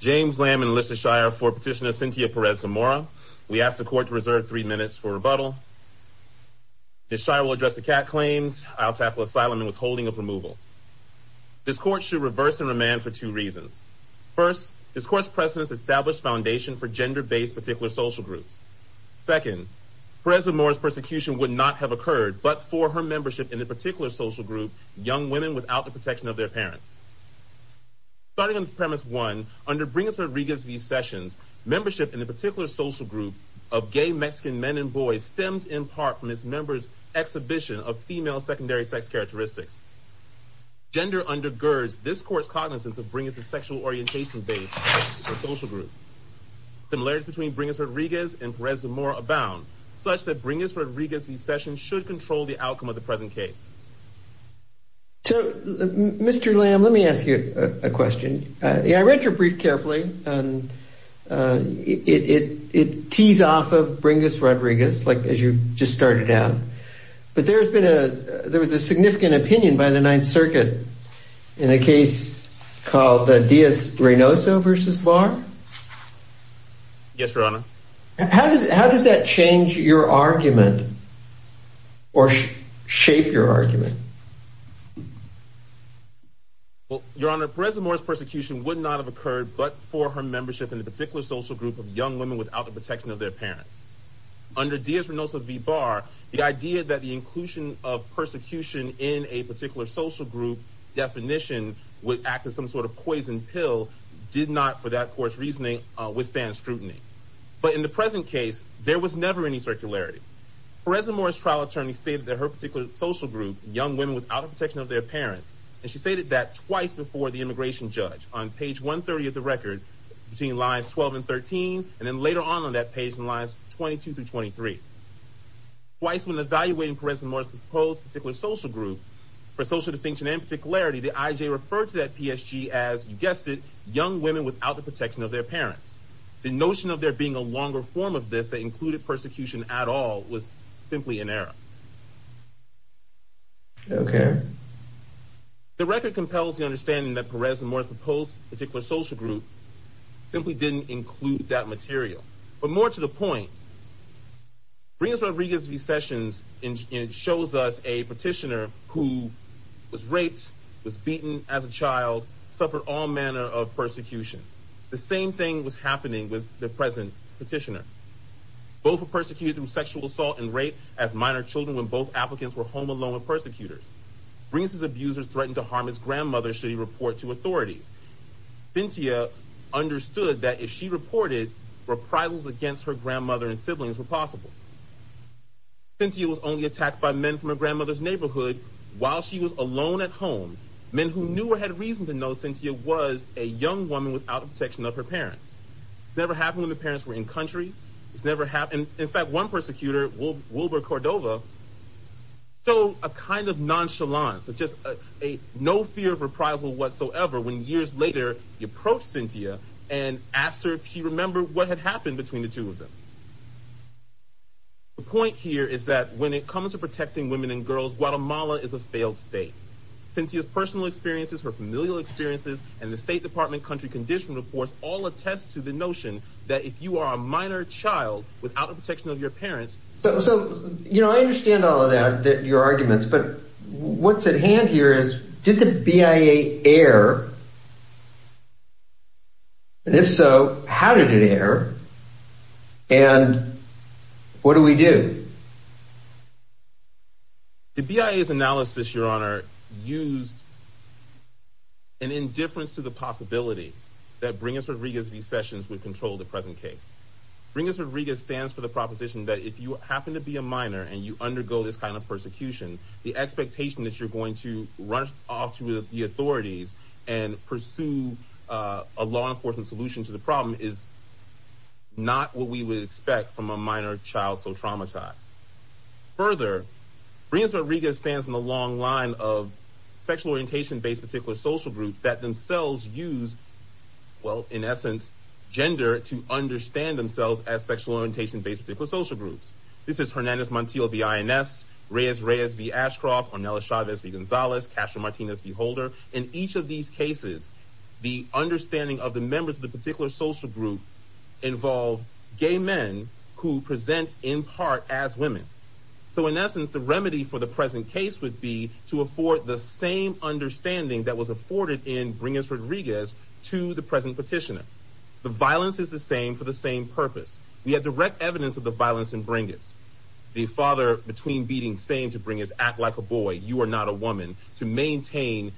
James Lamb enlisted Shire for petitioner Cintia Perez Zamora. We asked the court to reserve three minutes for rebuttal. Ms. Shire will address the cat claims. I'll tackle asylum and withholding of removal. This court should reverse and remand for two reasons. First, this court's precedence established foundation for gender-based particular social groups. Second, Perez Zamora's persecution would not have occurred but for her membership in a particular social group, young women without the protection of their parents. Starting on premise one, under Brigas-Rodriguez v. Sessions, membership in a particular social group of gay Mexican men and boys stems in part from its members' exhibition of female secondary sex characteristics. Gender undergirds this court's cognizance of Brigas' sexual orientation-based social group. Similarities between Brigas-Rodriguez and Perez Zamora abound, such that Brigas-Rodriguez v. Sessions should control the outcome of the present case. So, Mr. Lamb, let me ask you a question. I read your brief carefully and it tees off of Brigas-Rodriguez, like as you just started out, but there's been a there was a significant opinion by the Ninth Circuit in a case called the Diaz-Reynoso v. Barr. Yes, Your Honor. How does that change your argument or shape your argument? Well, Your Honor, Perez Zamora's persecution would not have occurred but for her membership in a particular social group of young women without the protection of their parents. Under Diaz-Reynoso v. Barr, the idea that the inclusion of persecution in a particular social group definition would act as some sort of poison pill did not, for that court's reasoning, withstand scrutiny. But in the present case, there was never any circularity. Perez Zamora's trial attorney stated that her particular social group, young women without the protection of their parents, and she stated that twice before the immigration judge on page 130 of the record between lines 12 and 13 and then later on on that page in lines 22 through 23. Twice when evaluating Perez Zamora's proposed particular social group for social distinction and particularity, the IJ referred to that PSG as, you guessed it, young women without the protection of their parents. The notion of there being a longer form of this that included persecution at all was simply in error. Okay. The record compels the understanding that Perez Zamora's proposed particular social group simply didn't include that material. But more to the point, Briggs Rodriguez v. Sessions shows us a petitioner who was raped, was beaten as a child, suffered all manner of persecution. The same thing was happening with the present petitioner. Both were persecuted through sexual assault and rape as minor children when both applicants were home alone with persecutors. Briggs' abuser threatened to harm his grandmother should he report to authorities. Cynthia understood that if she reported, reprisals against her Cynthia was only attacked by men from her grandmother's neighborhood while she was alone at home. Men who knew or had reason to know Cynthia was a young woman without the protection of her parents. Never happened when the parents were in country. It's never happened. In fact, one persecutor, Wilbur Cordova, showed a kind of nonchalance, just a no fear of reprisal whatsoever when years later he approached Cynthia and asked her if she remembered what had happened between the two of them. The point here is that when it comes to protecting women and girls, Guatemala is a failed state. Cynthia's personal experiences, her familial experiences, and the State Department country condition reports all attest to the notion that if you are a minor child without the protection of your parents. So, you know, I understand all of that, your arguments, but what's at hand here is did the BIA air? And if so, how did it air? And what do we do? The BIA's analysis, your honor, used an indifference to the possibility that Brigas Rodriguez's sessions would control the present case. Brigas Rodriguez stands for the proposition that if you happen to be a minor and you undergo this kind of persecution, the expectation that you're going to run off to the authorities and pursue a law enforcement solution to the problem is not what we would expect from a minor child so traumatized. Further, Brigas Rodriguez stands on the long line of sexual orientation based particular social groups that themselves use, well, in essence, gender to understand themselves as sexual orientation social groups. This is Hernandez Montiel of the INS, Reyes Reyes v. Ashcroft, Ornelas Chavez v. Gonzalez, Castro Martinez v. Holder. In each of these cases, the understanding of the members of the particular social group involve gay men who present in part as women. So, in essence, the remedy for the present case would be to afford the same understanding that was afforded in Brigas Rodriguez to the present petitioner. The violence is the same for the same purpose. We have direct evidence of the violence in Brigas. The father between beatings saying to Brigas, act like a boy, you are not a woman, to maintain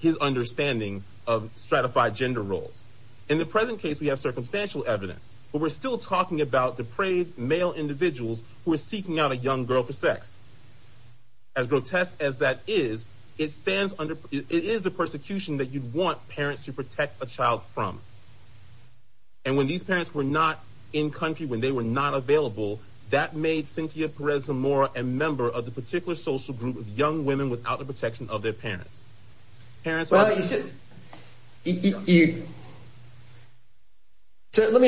his understanding of stratified gender roles. In the present case, we have circumstantial evidence, but we're still talking about depraved male individuals who are seeking out a young girl for sex. As grotesque as that is, it stands under, it is the persecution that you'd want parents to protect a child from. And when these parents were in country, when they were not available, that made Cynthia Perez Zamora a member of the particular social group of young women without the protection of their parents. Let me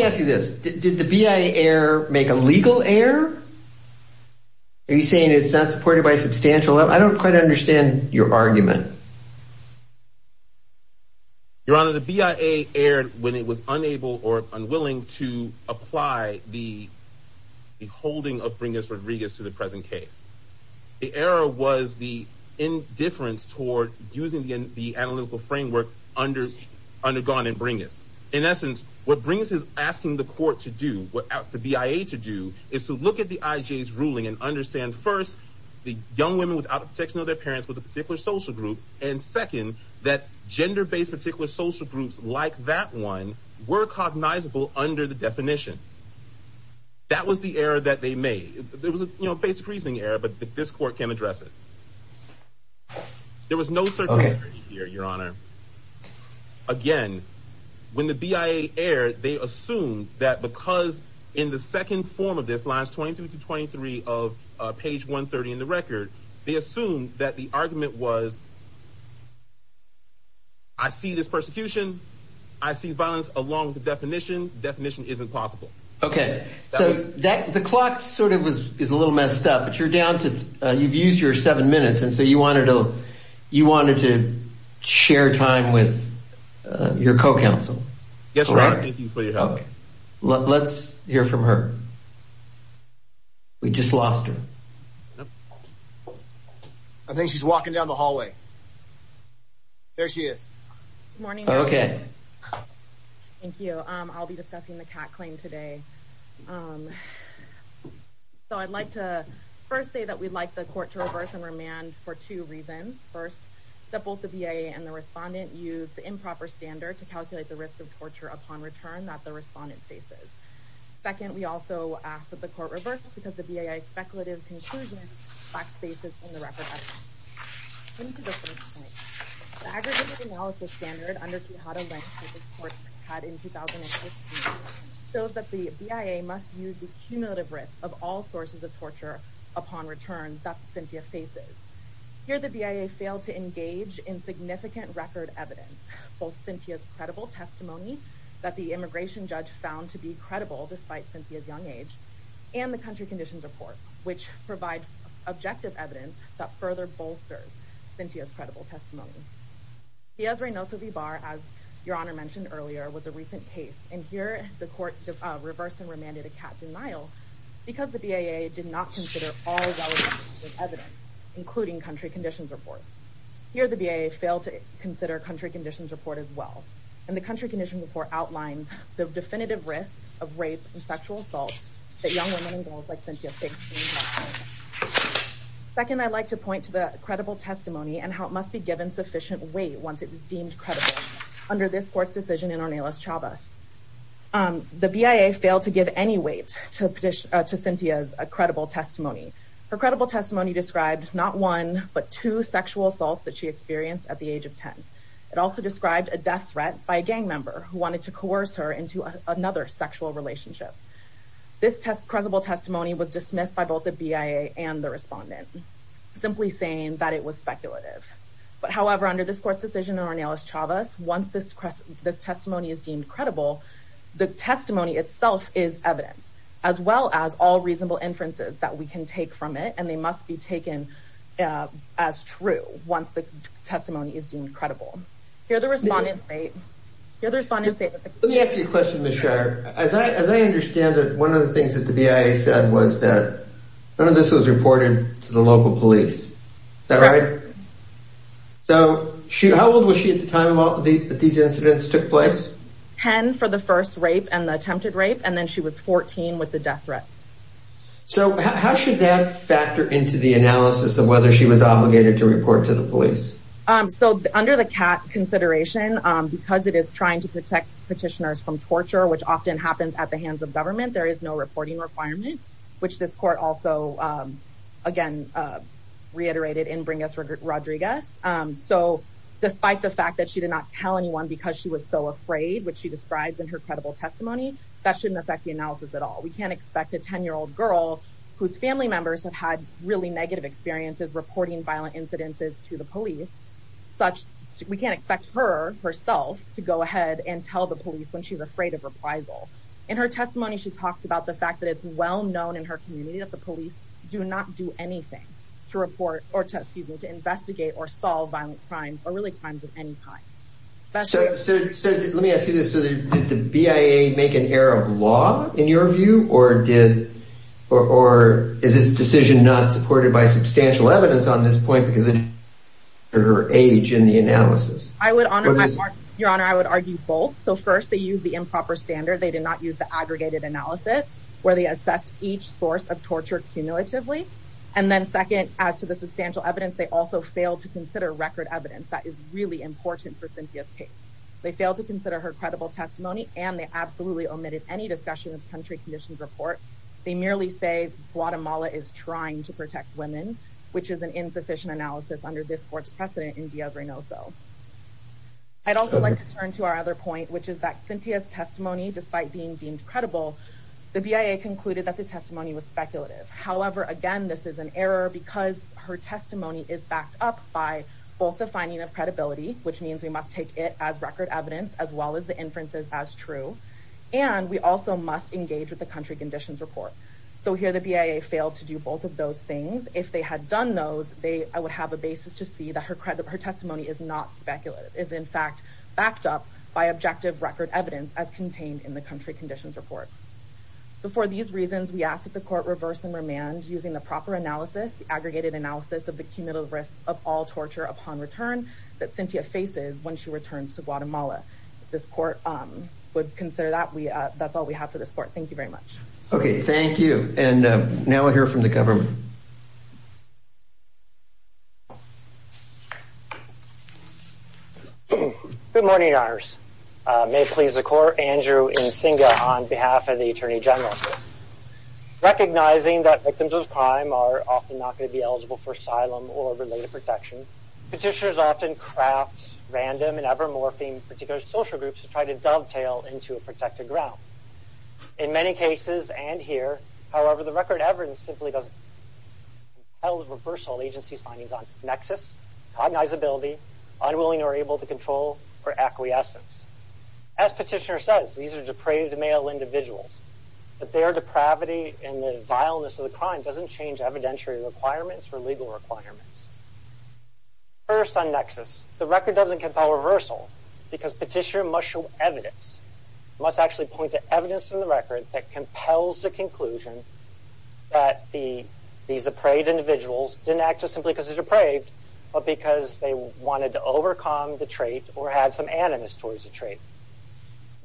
ask you this. Did the BIA error make a legal error? Are you saying it's not supported by substantial? I don't quite understand your argument. Your Honor, the BIA erred when it was unable or unwilling to apply the holding of Brigas Rodriguez to the present case. The error was the indifference toward using the analytical framework under undergone in Brigas. In essence, what Brigas is asking the court to do, what the BIA to do, is to look at the IJ's ruling and understand first, the young women without the protection of their parents with a particular social group. And second, that gender-based particular social groups like that one were cognizable under the definition. That was the error that they made. There was a basic reasoning error, but this court can address it. There was no certainty here, Your Honor. Again, when the BIA erred, they assumed that because in the second form of this, lines 23 to 23 of page 130 in the record, they assumed that the argument was, I see this persecution. I see violence along with the definition. Definition isn't possible. Okay. So that the clock sort of was, is a little messed up, but you're down to, you've used your seven minutes. And so you wanted to, you wanted to share time with your co-counsel. Yes, Your Honor. Thank you for your help. Let's hear from her. We just lost her. I think she's walking down the hallway. There she is. Good morning, Your Honor. Okay. Thank you. I'll be discussing the Kat claim today. So I'd like to first say that we'd like the court to reverse and remand for two reasons. First, that both the BIA and the respondent used the improper standard to calculate the risk of torture upon return that the respondent faces. Second, we also ask that the court reverts because the BIA's speculative conclusion lacks basis in the record. The aggregate analysis standard under Quijada-Lenz, which this court had in 2015, shows that the BIA must use the cumulative risk of all sources of torture upon return that Cynthia faces. Here, the BIA failed to engage in significant record evidence, both Cynthia's credible testimony that the immigration judge found to be credible despite Cynthia's young age, and the country conditions report, which provides objective evidence that further bolsters Cynthia's credible testimony. Diaz-Reynoso v. Barr, as Your Honor mentioned earlier, was a recent case. And here the court reversed and remanded a Kat denial because the BIA did not consider all relevant evidence, including country conditions reports. Here the BIA failed to consider country conditions report as well. And the country conditions report outlines the definitive risk of rape and sexual assault that young women and girls like Cynthia face. Second, I'd like to point to the credible testimony and how it must be given sufficient weight once it's deemed credible under this court's decision. The BIA failed to give any weight to Cynthia's credible testimony. Her credible testimony described not one, but two sexual assaults that she experienced at the age of 10. It also described a death threat by a gang member who wanted to coerce her into another sexual relationship. This credible testimony was dismissed by both the BIA and the respondent, simply saying that it was speculative. But however, under this court's decision, once this testimony is deemed credible, the testimony itself is evidence, as well as all reasonable inferences that we can take from it. And they must be taken as true once the testimony is deemed credible. Here the respondent state. Let me ask you a question, Ms. Shire. As I understand it, one of the things that the BIA said was that none of this was reported to local police. Is that right? So how old was she at the time that these incidents took place? 10 for the first rape and the attempted rape, and then she was 14 with the death threat. So how should that factor into the analysis of whether she was obligated to report to the police? So under the CAT consideration, because it is trying to protect petitioners from torture, which often happens at the hands of government, there is no reporting requirement, which this court also, again, reiterated in Bring Us Rodriguez. So despite the fact that she did not tell anyone because she was so afraid, which she describes in her credible testimony, that shouldn't affect the analysis at all. We can't expect a 10-year-old girl whose family members have had really negative experiences reporting violent incidences to the police, such we can't expect her herself to go ahead and tell the police when she's afraid of reprisal. In her testimony, she talked about the fact that it's well known in her community that the police do not do anything to report or to investigate or solve violent crimes or really crimes of any kind. So let me ask you this. Did the BIA make an error of law in your view, or is this decision not supported by substantial evidence on this point because of her age in the analysis? I would argue both. So first, they used the improper standard. They did not use the aggregated analysis where they assessed each source of torture cumulatively. And then second, as to the substantial evidence, they also failed to consider record evidence. That is really important for Cynthia's case. They failed to consider her credible testimony, and they absolutely omitted any discussion of country conditions report. They merely say Guatemala is trying to protect women, which is an insufficient analysis under this court's in Diaz-Reynoso. I'd also like to turn to our other point, which is that Cynthia's testimony, despite being deemed credible, the BIA concluded that the testimony was speculative. However, again, this is an error because her testimony is backed up by both the finding of credibility, which means we must take it as record evidence, as well as the inferences as true, and we also must engage with the country conditions report. So here the BIA failed to do both of those things. If they had done those, they would have a basis to see that her testimony is not speculative, is in fact backed up by objective record evidence as contained in the country conditions report. So for these reasons, we ask that the court reverse and remand using the proper analysis, the aggregated analysis of the cumulative risks of all torture upon return that Cynthia faces when she returns to Guatemala. If this court would consider that, that's all we have for this Okay, thank you. And now we'll hear from the government. Good morning, your honors. May it please the court, Andrew Nzinga on behalf of the attorney general. Recognizing that victims of crime are often not going to be eligible for asylum or related protection, petitioners often craft random and ever-morphing particular social groups to try to dovetail into a protected ground. In many cases and here, however, the record evidence simply doesn't tell the reversal agency's findings on nexus, cognizability, unwilling or able to control, or acquiescence. As petitioner says, these are depraved male individuals, but their depravity and the vileness of the crime doesn't change evidentiary requirements or legal requirements. First on nexus, the record doesn't compel reversal because petitioner must show evidence, must actually point to evidence in the record that compels the conclusion that these depraved individuals didn't act just simply because they were depraved, but because they wanted to overcome the trait or had some animus towards the trait.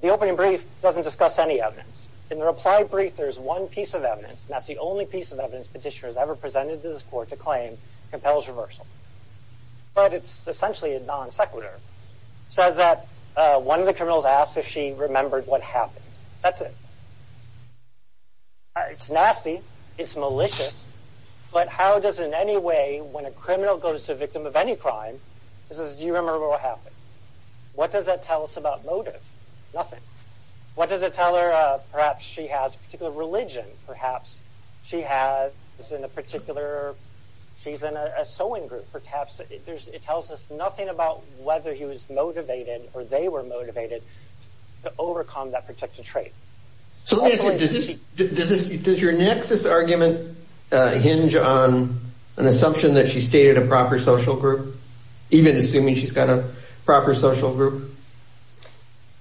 The opening brief doesn't discuss any evidence. In the reply brief, there's one piece of evidence, and that's the only piece of evidence petitioners ever presented to this court to claim compels reversal. But it's essentially a non-sequitur. Says that one of the criminals asked if she remembered what happened. That's it. It's nasty, it's malicious, but how does in any way when a criminal goes to a victim of any crime, this is, do you remember what happened? What does that tell us about motive? Nothing. What does it tell her? Perhaps she has a particular religion. Perhaps she has, is in a particular, she's in a sewing group. Perhaps it tells us nothing about whether he was motivated or they were motivated to overcome that particular trait. So does this, does your nexus argument hinge on an assumption that she stated a proper social group, even assuming she's got a proper social group?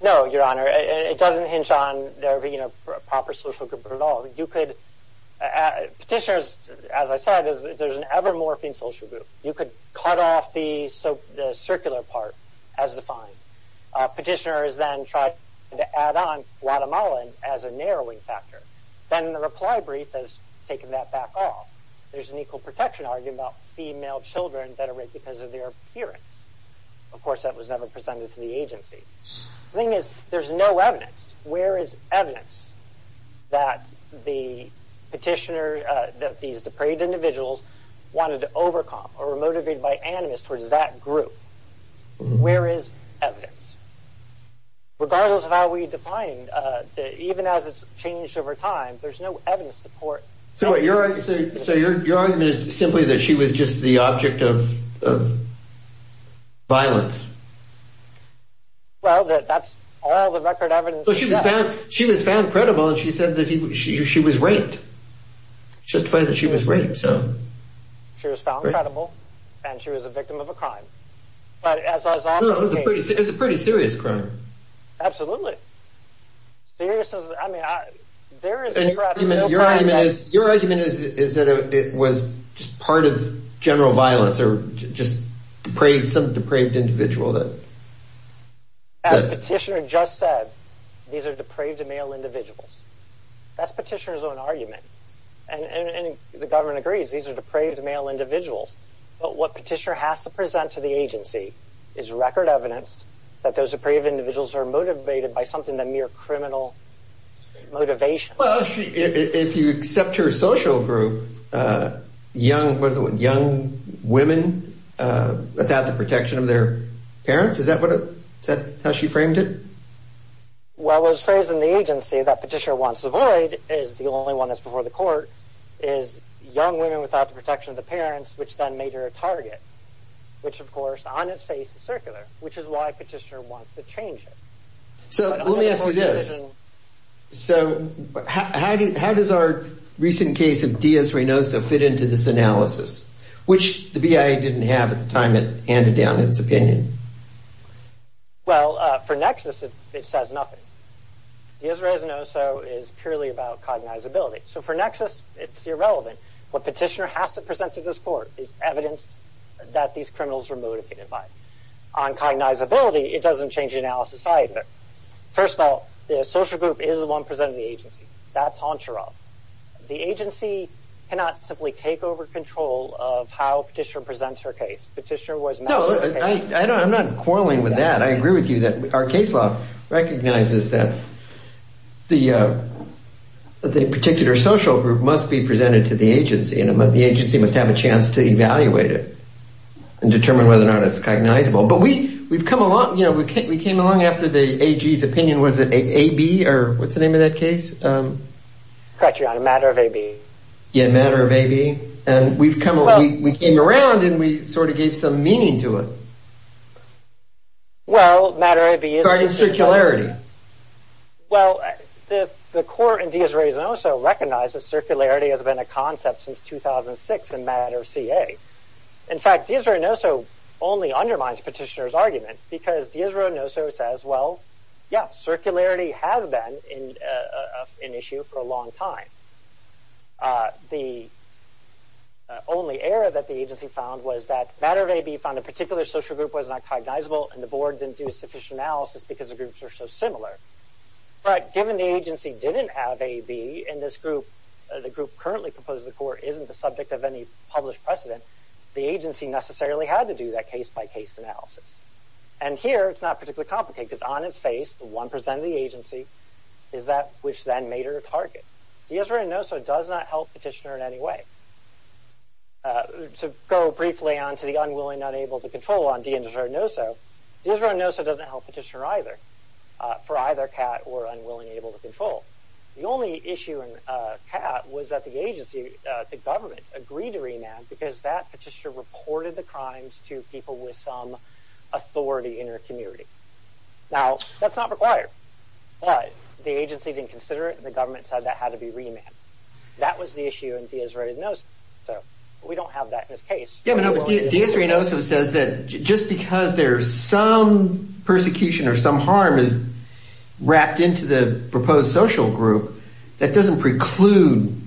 No, Your Honor. It doesn't hinge on their being a proper social group at all. You could, petitioners, as I said, there's an ever-morphing social group. You could cut off the circular part as defined. Petitioners then tried to add on Guatemala as a narrowing factor. Then the reply brief has taken that back off. There's an equal protection argument about female children that was never presented to the agency. The thing is, there's no evidence. Where is evidence that the petitioner, that these depraved individuals wanted to overcome or were motivated by animus towards that group? Where is evidence? Regardless of how we define, even as it's changed over time, there's no evidence support. So your argument is simply that she was just the object of violence. Well, that's all the record evidence. So she was found, she was found credible and she said that she was raped. Justify that she was raped. So she was found credible and she was a victim of a crime. But as I saw, it's a pretty serious crime. Absolutely. Serious. I mean, there is a crime. Your argument is that it was just part of general violence or just some depraved individual. Petitioner just said these are depraved male individuals. That's petitioner's own argument. And the government agrees these are depraved male individuals. But what petitioner has to present to the agency is record evidence that those depraved individuals are motivated by something, the mere criminal motivation. If you accept her social group, young women without the protection of their parents, is that how she framed it? Well, the phrase in the agency that petitioner wants to avoid is the only one that's before the court is young women without the protection of the parents, which then made her a target, which, of course, on its face is circular, which is why petitioner wants to change it. So let me ask you this. So how does our recent case of Diaz-Reynoso fit into this analysis, which the BIA didn't have at the time it handed down its opinion? Well, for Nexus, it says nothing. Diaz-Reynoso is purely about cognizability. So for Nexus, it's irrelevant. What petitioner has to present to this court is evidence that these criminals were motivated by. On cognizability, it doesn't change the analysis either. First of all, the social group is the one presenting the agency. That's Honcharol. The agency cannot simply take over control of how petitioner presents her case. Petitioner was- No, I'm not quarreling with that. I agree with you that our case law recognizes that the particular social group must be presented to the agency, and the agency must have a chance to determine whether or not it's cognizable. But we came along after the AG's opinion. Was it AB or what's the name of that case? Correct, Your Honor. Matter of AB. Yeah, Matter of AB. And we came around and we sort of gave some meaning to it. Well, Matter of AB is- Regarding circularity. Well, the court in Diaz-Reynoso recognizes circularity has been a concept since 2006 in Matter of CA. In fact, Diaz-Reynoso only undermines petitioner's argument because Diaz-Reynoso says, well, yeah, circularity has been an issue for a long time. The only error that the agency found was that Matter of AB found a particular social group was not cognizable, and the board didn't do sufficient analysis because the groups are so similar. But given the agency didn't have in this group, the group currently proposed to the court isn't the subject of any published precedent, the agency necessarily had to do that case-by-case analysis. And here, it's not particularly complicated because on its face, the one percent of the agency is that which then made her a target. Diaz-Reynoso does not help petitioner in any way. To go briefly on to the unwilling, unable to control on Diaz-Reynoso, Diaz-Reynoso doesn't help petitioner either for either CAT or unwilling, unable to control. The only issue in CAT was that the agency, the government, agreed to remand because that petitioner reported the crimes to people with some authority in her community. Now, that's not required, but the agency didn't consider it, and the government said that had to be remanded. That was the issue in Diaz-Reynoso. So we don't have that in this case. Yeah, but Diaz-Reynoso says that just because there's some persecution or some harm is wrapped into the proposed social group, that doesn't preclude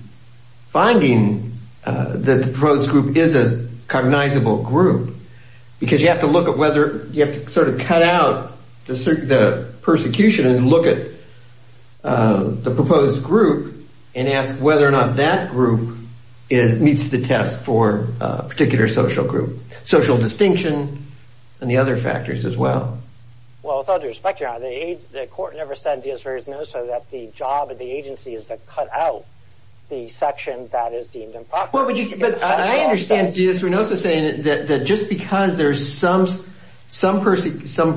finding that the proposed group is a cognizable group, because you have to look at whether, you have to sort of cut out the persecution and look at the proposed group and ask whether or not that group meets the test for a particular social group. Social distinction and the other factors as well. Well, with all due respect, the court never said in Diaz-Reynoso that the job of the agency is to cut out the section that is deemed improper. But I understand Diaz-Reynoso saying that just because there's some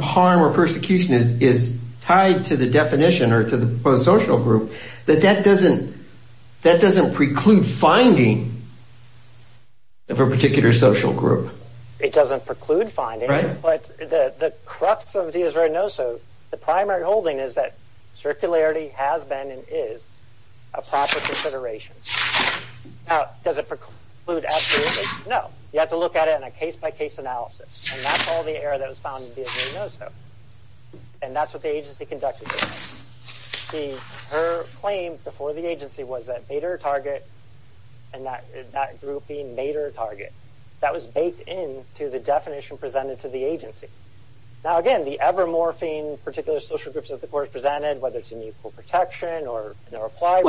harm or persecution is tied to the definition or to the proposed social group, that that doesn't preclude finding of a particular social group. It doesn't preclude finding it, but the crux of Diaz-Reynoso, the primary holding is that circularity has been and is a proper consideration. Now, does it preclude absolutely? No. You have to look at it in a case-by-case analysis. And that's all the error that was found in Diaz-Reynoso. And that's what the agency conducted. Her claim before the agency was that Bader Target and that group being Bader Target. That was baked into the definition presented to the agency. Now, again, the ever-morphing particular social groups that the court presented, whether it's in Equal Protection or Applied,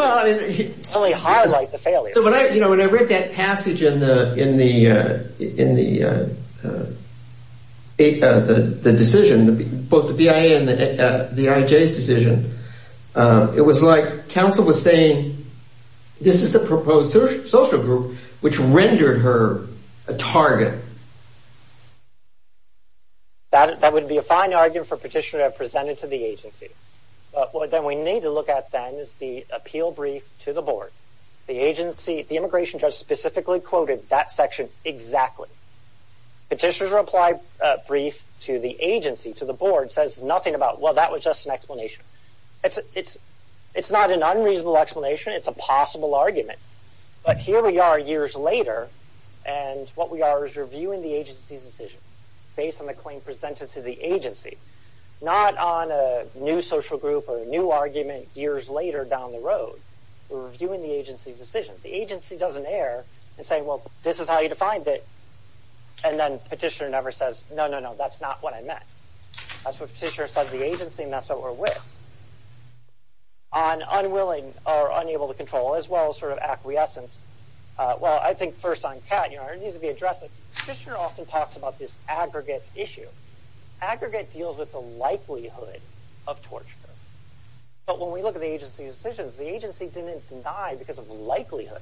certainly highlight the failure. So when I read that passage in the decision, both the BIA and the IJ's decision, it was like counsel was saying, this is the proposed social group which rendered her a target. That would be a fine argument for a petitioner to have presented to the agency. But what then we need to look at then is the appeal brief to the board. The agency, the immigration judge specifically quoted that section exactly. Petitioner's reply brief to the board says nothing about, well, that was just an explanation. It's not an unreasonable explanation. It's a possible argument. But here we are years later, and what we are is reviewing the agency's decision based on the claim presented to the agency. Not on a new social group or new argument years later down the road. We're reviewing the agency's decision. The agency doesn't err and say, well, this is how you defined it. And then petitioner never says, no, no, no, that's not what I meant. That's what petitioner said the agency messed over with. On unwilling or unable to control as well as sort of acquiescence, well, I think first on cat, you know, it needs to be addressed. Petitioner often talks about this aggregate issue. Aggregate deals with the likelihood of torture. But when we look at the agency's decisions, the agency didn't deny because of likelihood.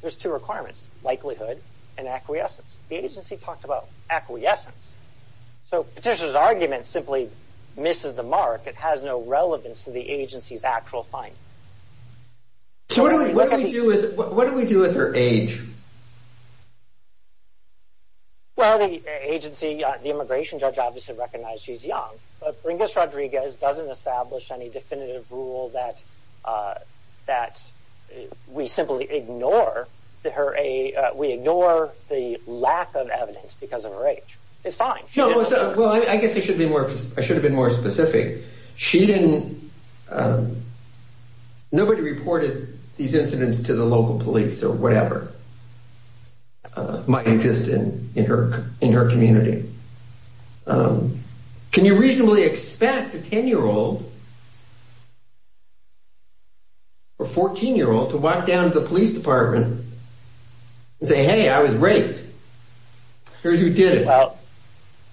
There's two requirements, likelihood and acquiescence. The agency talked about acquiescence. So petitioner's argument simply misses the mark. It has no relevance to the agency's actual finding. So what do we do with her age? Well, the agency, the immigration judge obviously recognized she's young, but Pringles Rodriguez doesn't establish any definitive rule that we simply ignore her. We ignore the lack of evidence because of her age. It's fine. No, well, I guess I should have been more specific. Nobody reported these incidents to the local police or whatever might exist in her community. Can you reasonably expect a 10-year-old or 14-year-old to walk down to the police department and say, hey, I was raped. Here's who did it.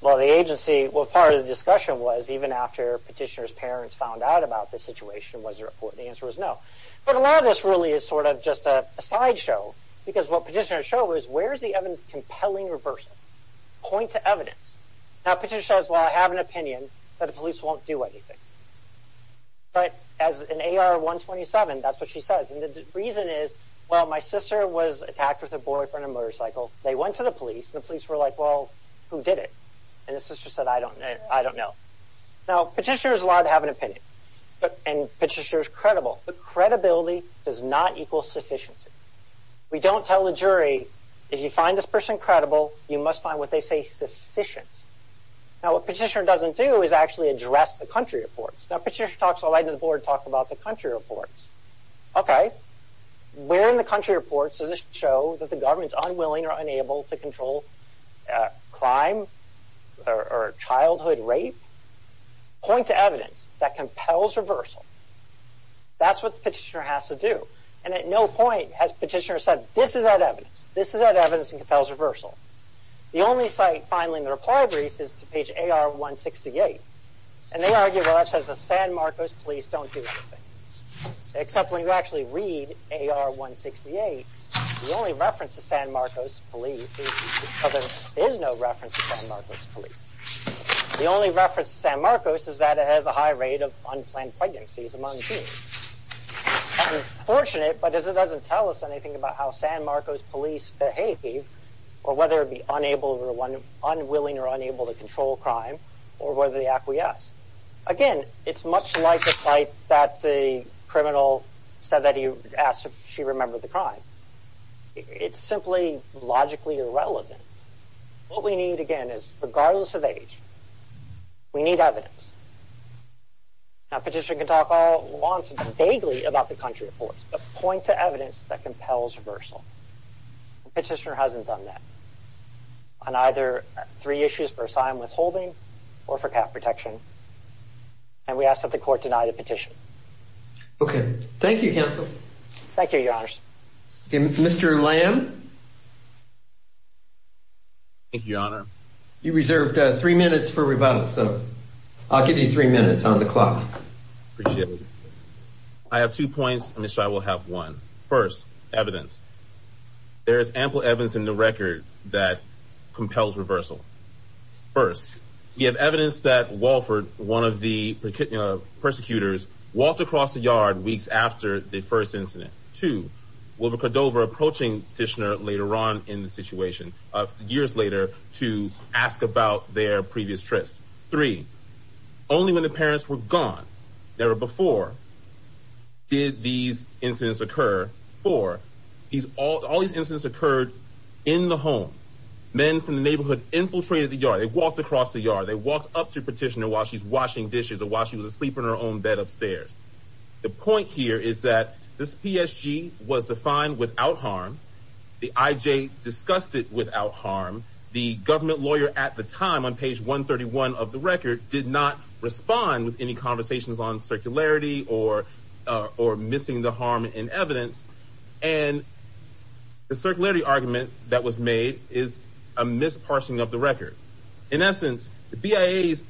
Well, the agency, well, part of the discussion was even after petitioner's parents found out about the situation, was there a court? The answer was no. But a lot of this really is sort of just a sideshow because what petitioners show is where is the evidence compelling or versatile? Point to evidence. Now, petitioner says, well, I have an opinion that the police won't do anything. But as an AR-127, that's what she says. And the reason is, well, my sister was attacked with a boyfriend in a motorcycle. They went to the police. The police were like, well, who did it? And the sister said, I don't know. Now, petitioner is allowed to have an opinion. And petitioner is credible. But credibility does not equal sufficiency. We don't tell the jury, if you find this person credible, you must find what they say sufficient. Now, what petitioner doesn't do is actually address the country reports. Now, petitioner talks, I'll write to the board and talk about the country reports. Okay. Where in the country reports does it show that the government is unwilling or unable to control crime or childhood rape? Point to evidence that compels reversal. That's what the petitioner has to do. And at no point has petitioner said, this is that evidence. This is that evidence that compels reversal. The only site, finally, in the reply brief is to page AR-168. And they argue, well, that says the San Marcos police don't do anything. Except when you actually read AR-168, the only reference to San Marcos police, well, there is no reference to San Marcos police. The only reference to San Marcos is that it has a high rate of unplanned pregnancies among teens. That's unfortunate, but it doesn't tell us anything about how San Marcos police behave or whether it be unwilling or unable to control crime or whether they acquiesce. Again, it's much like the site that the criminal said that he asked if she remembered the crime. It's simply logically irrelevant. What we need, again, is regardless of age, we need evidence. Now, petitioner can talk all at once vaguely about the country reports, but point to evidence that compels reversal. Petitioner hasn't done that on either three issues for asylum withholding or for cap protection. And we ask that the court deny the petition. Okay. Thank you, counsel. Thank you, your honors. Mr. Lamb. Thank you, your honor. You reserved three minutes for rebuttal, so I'll give you three minutes on the clock. Appreciate it. I have two points and I will have one. First, evidence. There is ample evidence in the record that compels reversal. First, we have evidence that Walford, one of the persecutors, walked across the yard weeks after the first incident. Two, Wilbur Cordova approaching petitioner later on in the situation, years later, to ask about their previous trust. Three, only when the parents were gone, never before, did these incidents occur. Four, all these incidents occurred in the home. Men from the neighborhood infiltrated the yard. They walked across the yard. They walked up to petitioner while she's washing dishes or while she was asleep in her own bed upstairs. The point here is that this PSG was defined without harm. The IJ discussed it without harm. The government lawyer at the time, on page 131 of the record, did not respond with any conversations on circularity or missing the harm in evidence. And the circularity argument that was made is a mis-parsing of the record. In essence, the BIA's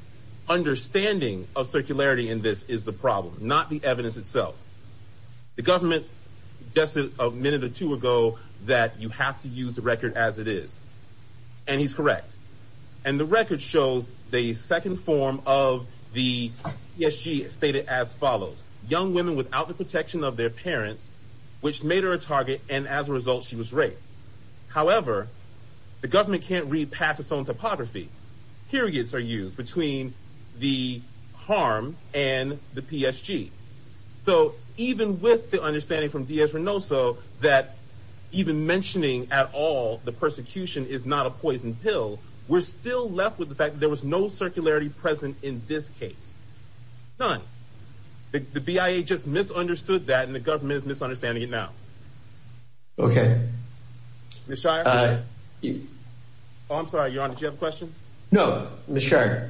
understanding of circularity in this is the problem, not the evidence itself. The government suggested a minute or two ago that you have to use the record as it is. And he's correct. And the record shows the second form of the PSG stated as follows. Young women without the protection of their parents, which made her a target, and as a result, she was raped. However, the government can't read past its own typography. Periods are used between the harm and the PSG. So even with the understanding from that, even mentioning at all, the persecution is not a poison pill, we're still left with the fact that there was no circularity present in this case. None. The BIA just misunderstood that and the government is misunderstanding it now. Okay. Oh, I'm sorry. Your Honor, do you have a question? No. Ms. Shirey.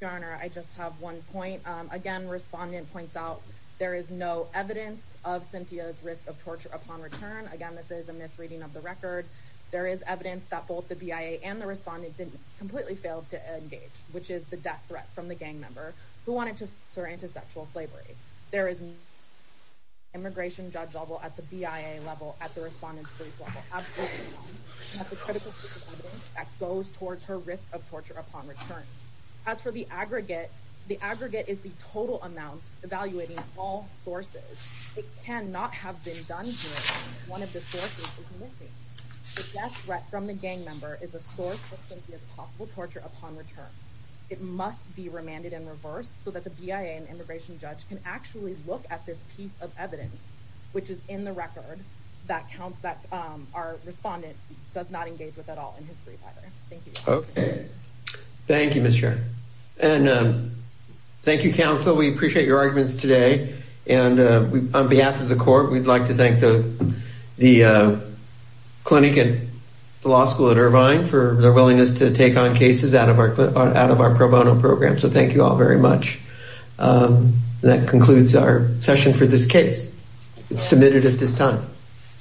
Your Honor, I just have one point. Again, respondent points out there is no evidence of Cynthia's risk of torture upon return. Again, this is a misreading of the record. There is evidence that both the BIA and the respondent didn't completely fail to engage, which is the death threat from the gang member who wanted to throw into sexual slavery. There is an immigration judge level at the BIA level at the respondent's police level. That goes towards her risk of torture upon return. As for the aggregate, the aggregate is the total amount evaluating all sources. It cannot have been done here. One of the sources is missing. The death threat from the gang member is a source of Cynthia's possible torture upon return. It must be remanded and reversed so that the BIA and immigration judge can actually look at this piece of evidence, which is in the record that our respondent does not believe either. Thank you. Okay. Thank you, Ms. Shirey. Thank you, counsel. We appreciate your arguments today. On behalf of the court, we'd like to thank the clinic and the law school at Irvine for their willingness to take on cases out of our pro bono program. Thank you all very much. That concludes our session for this case. It's submitted at this time.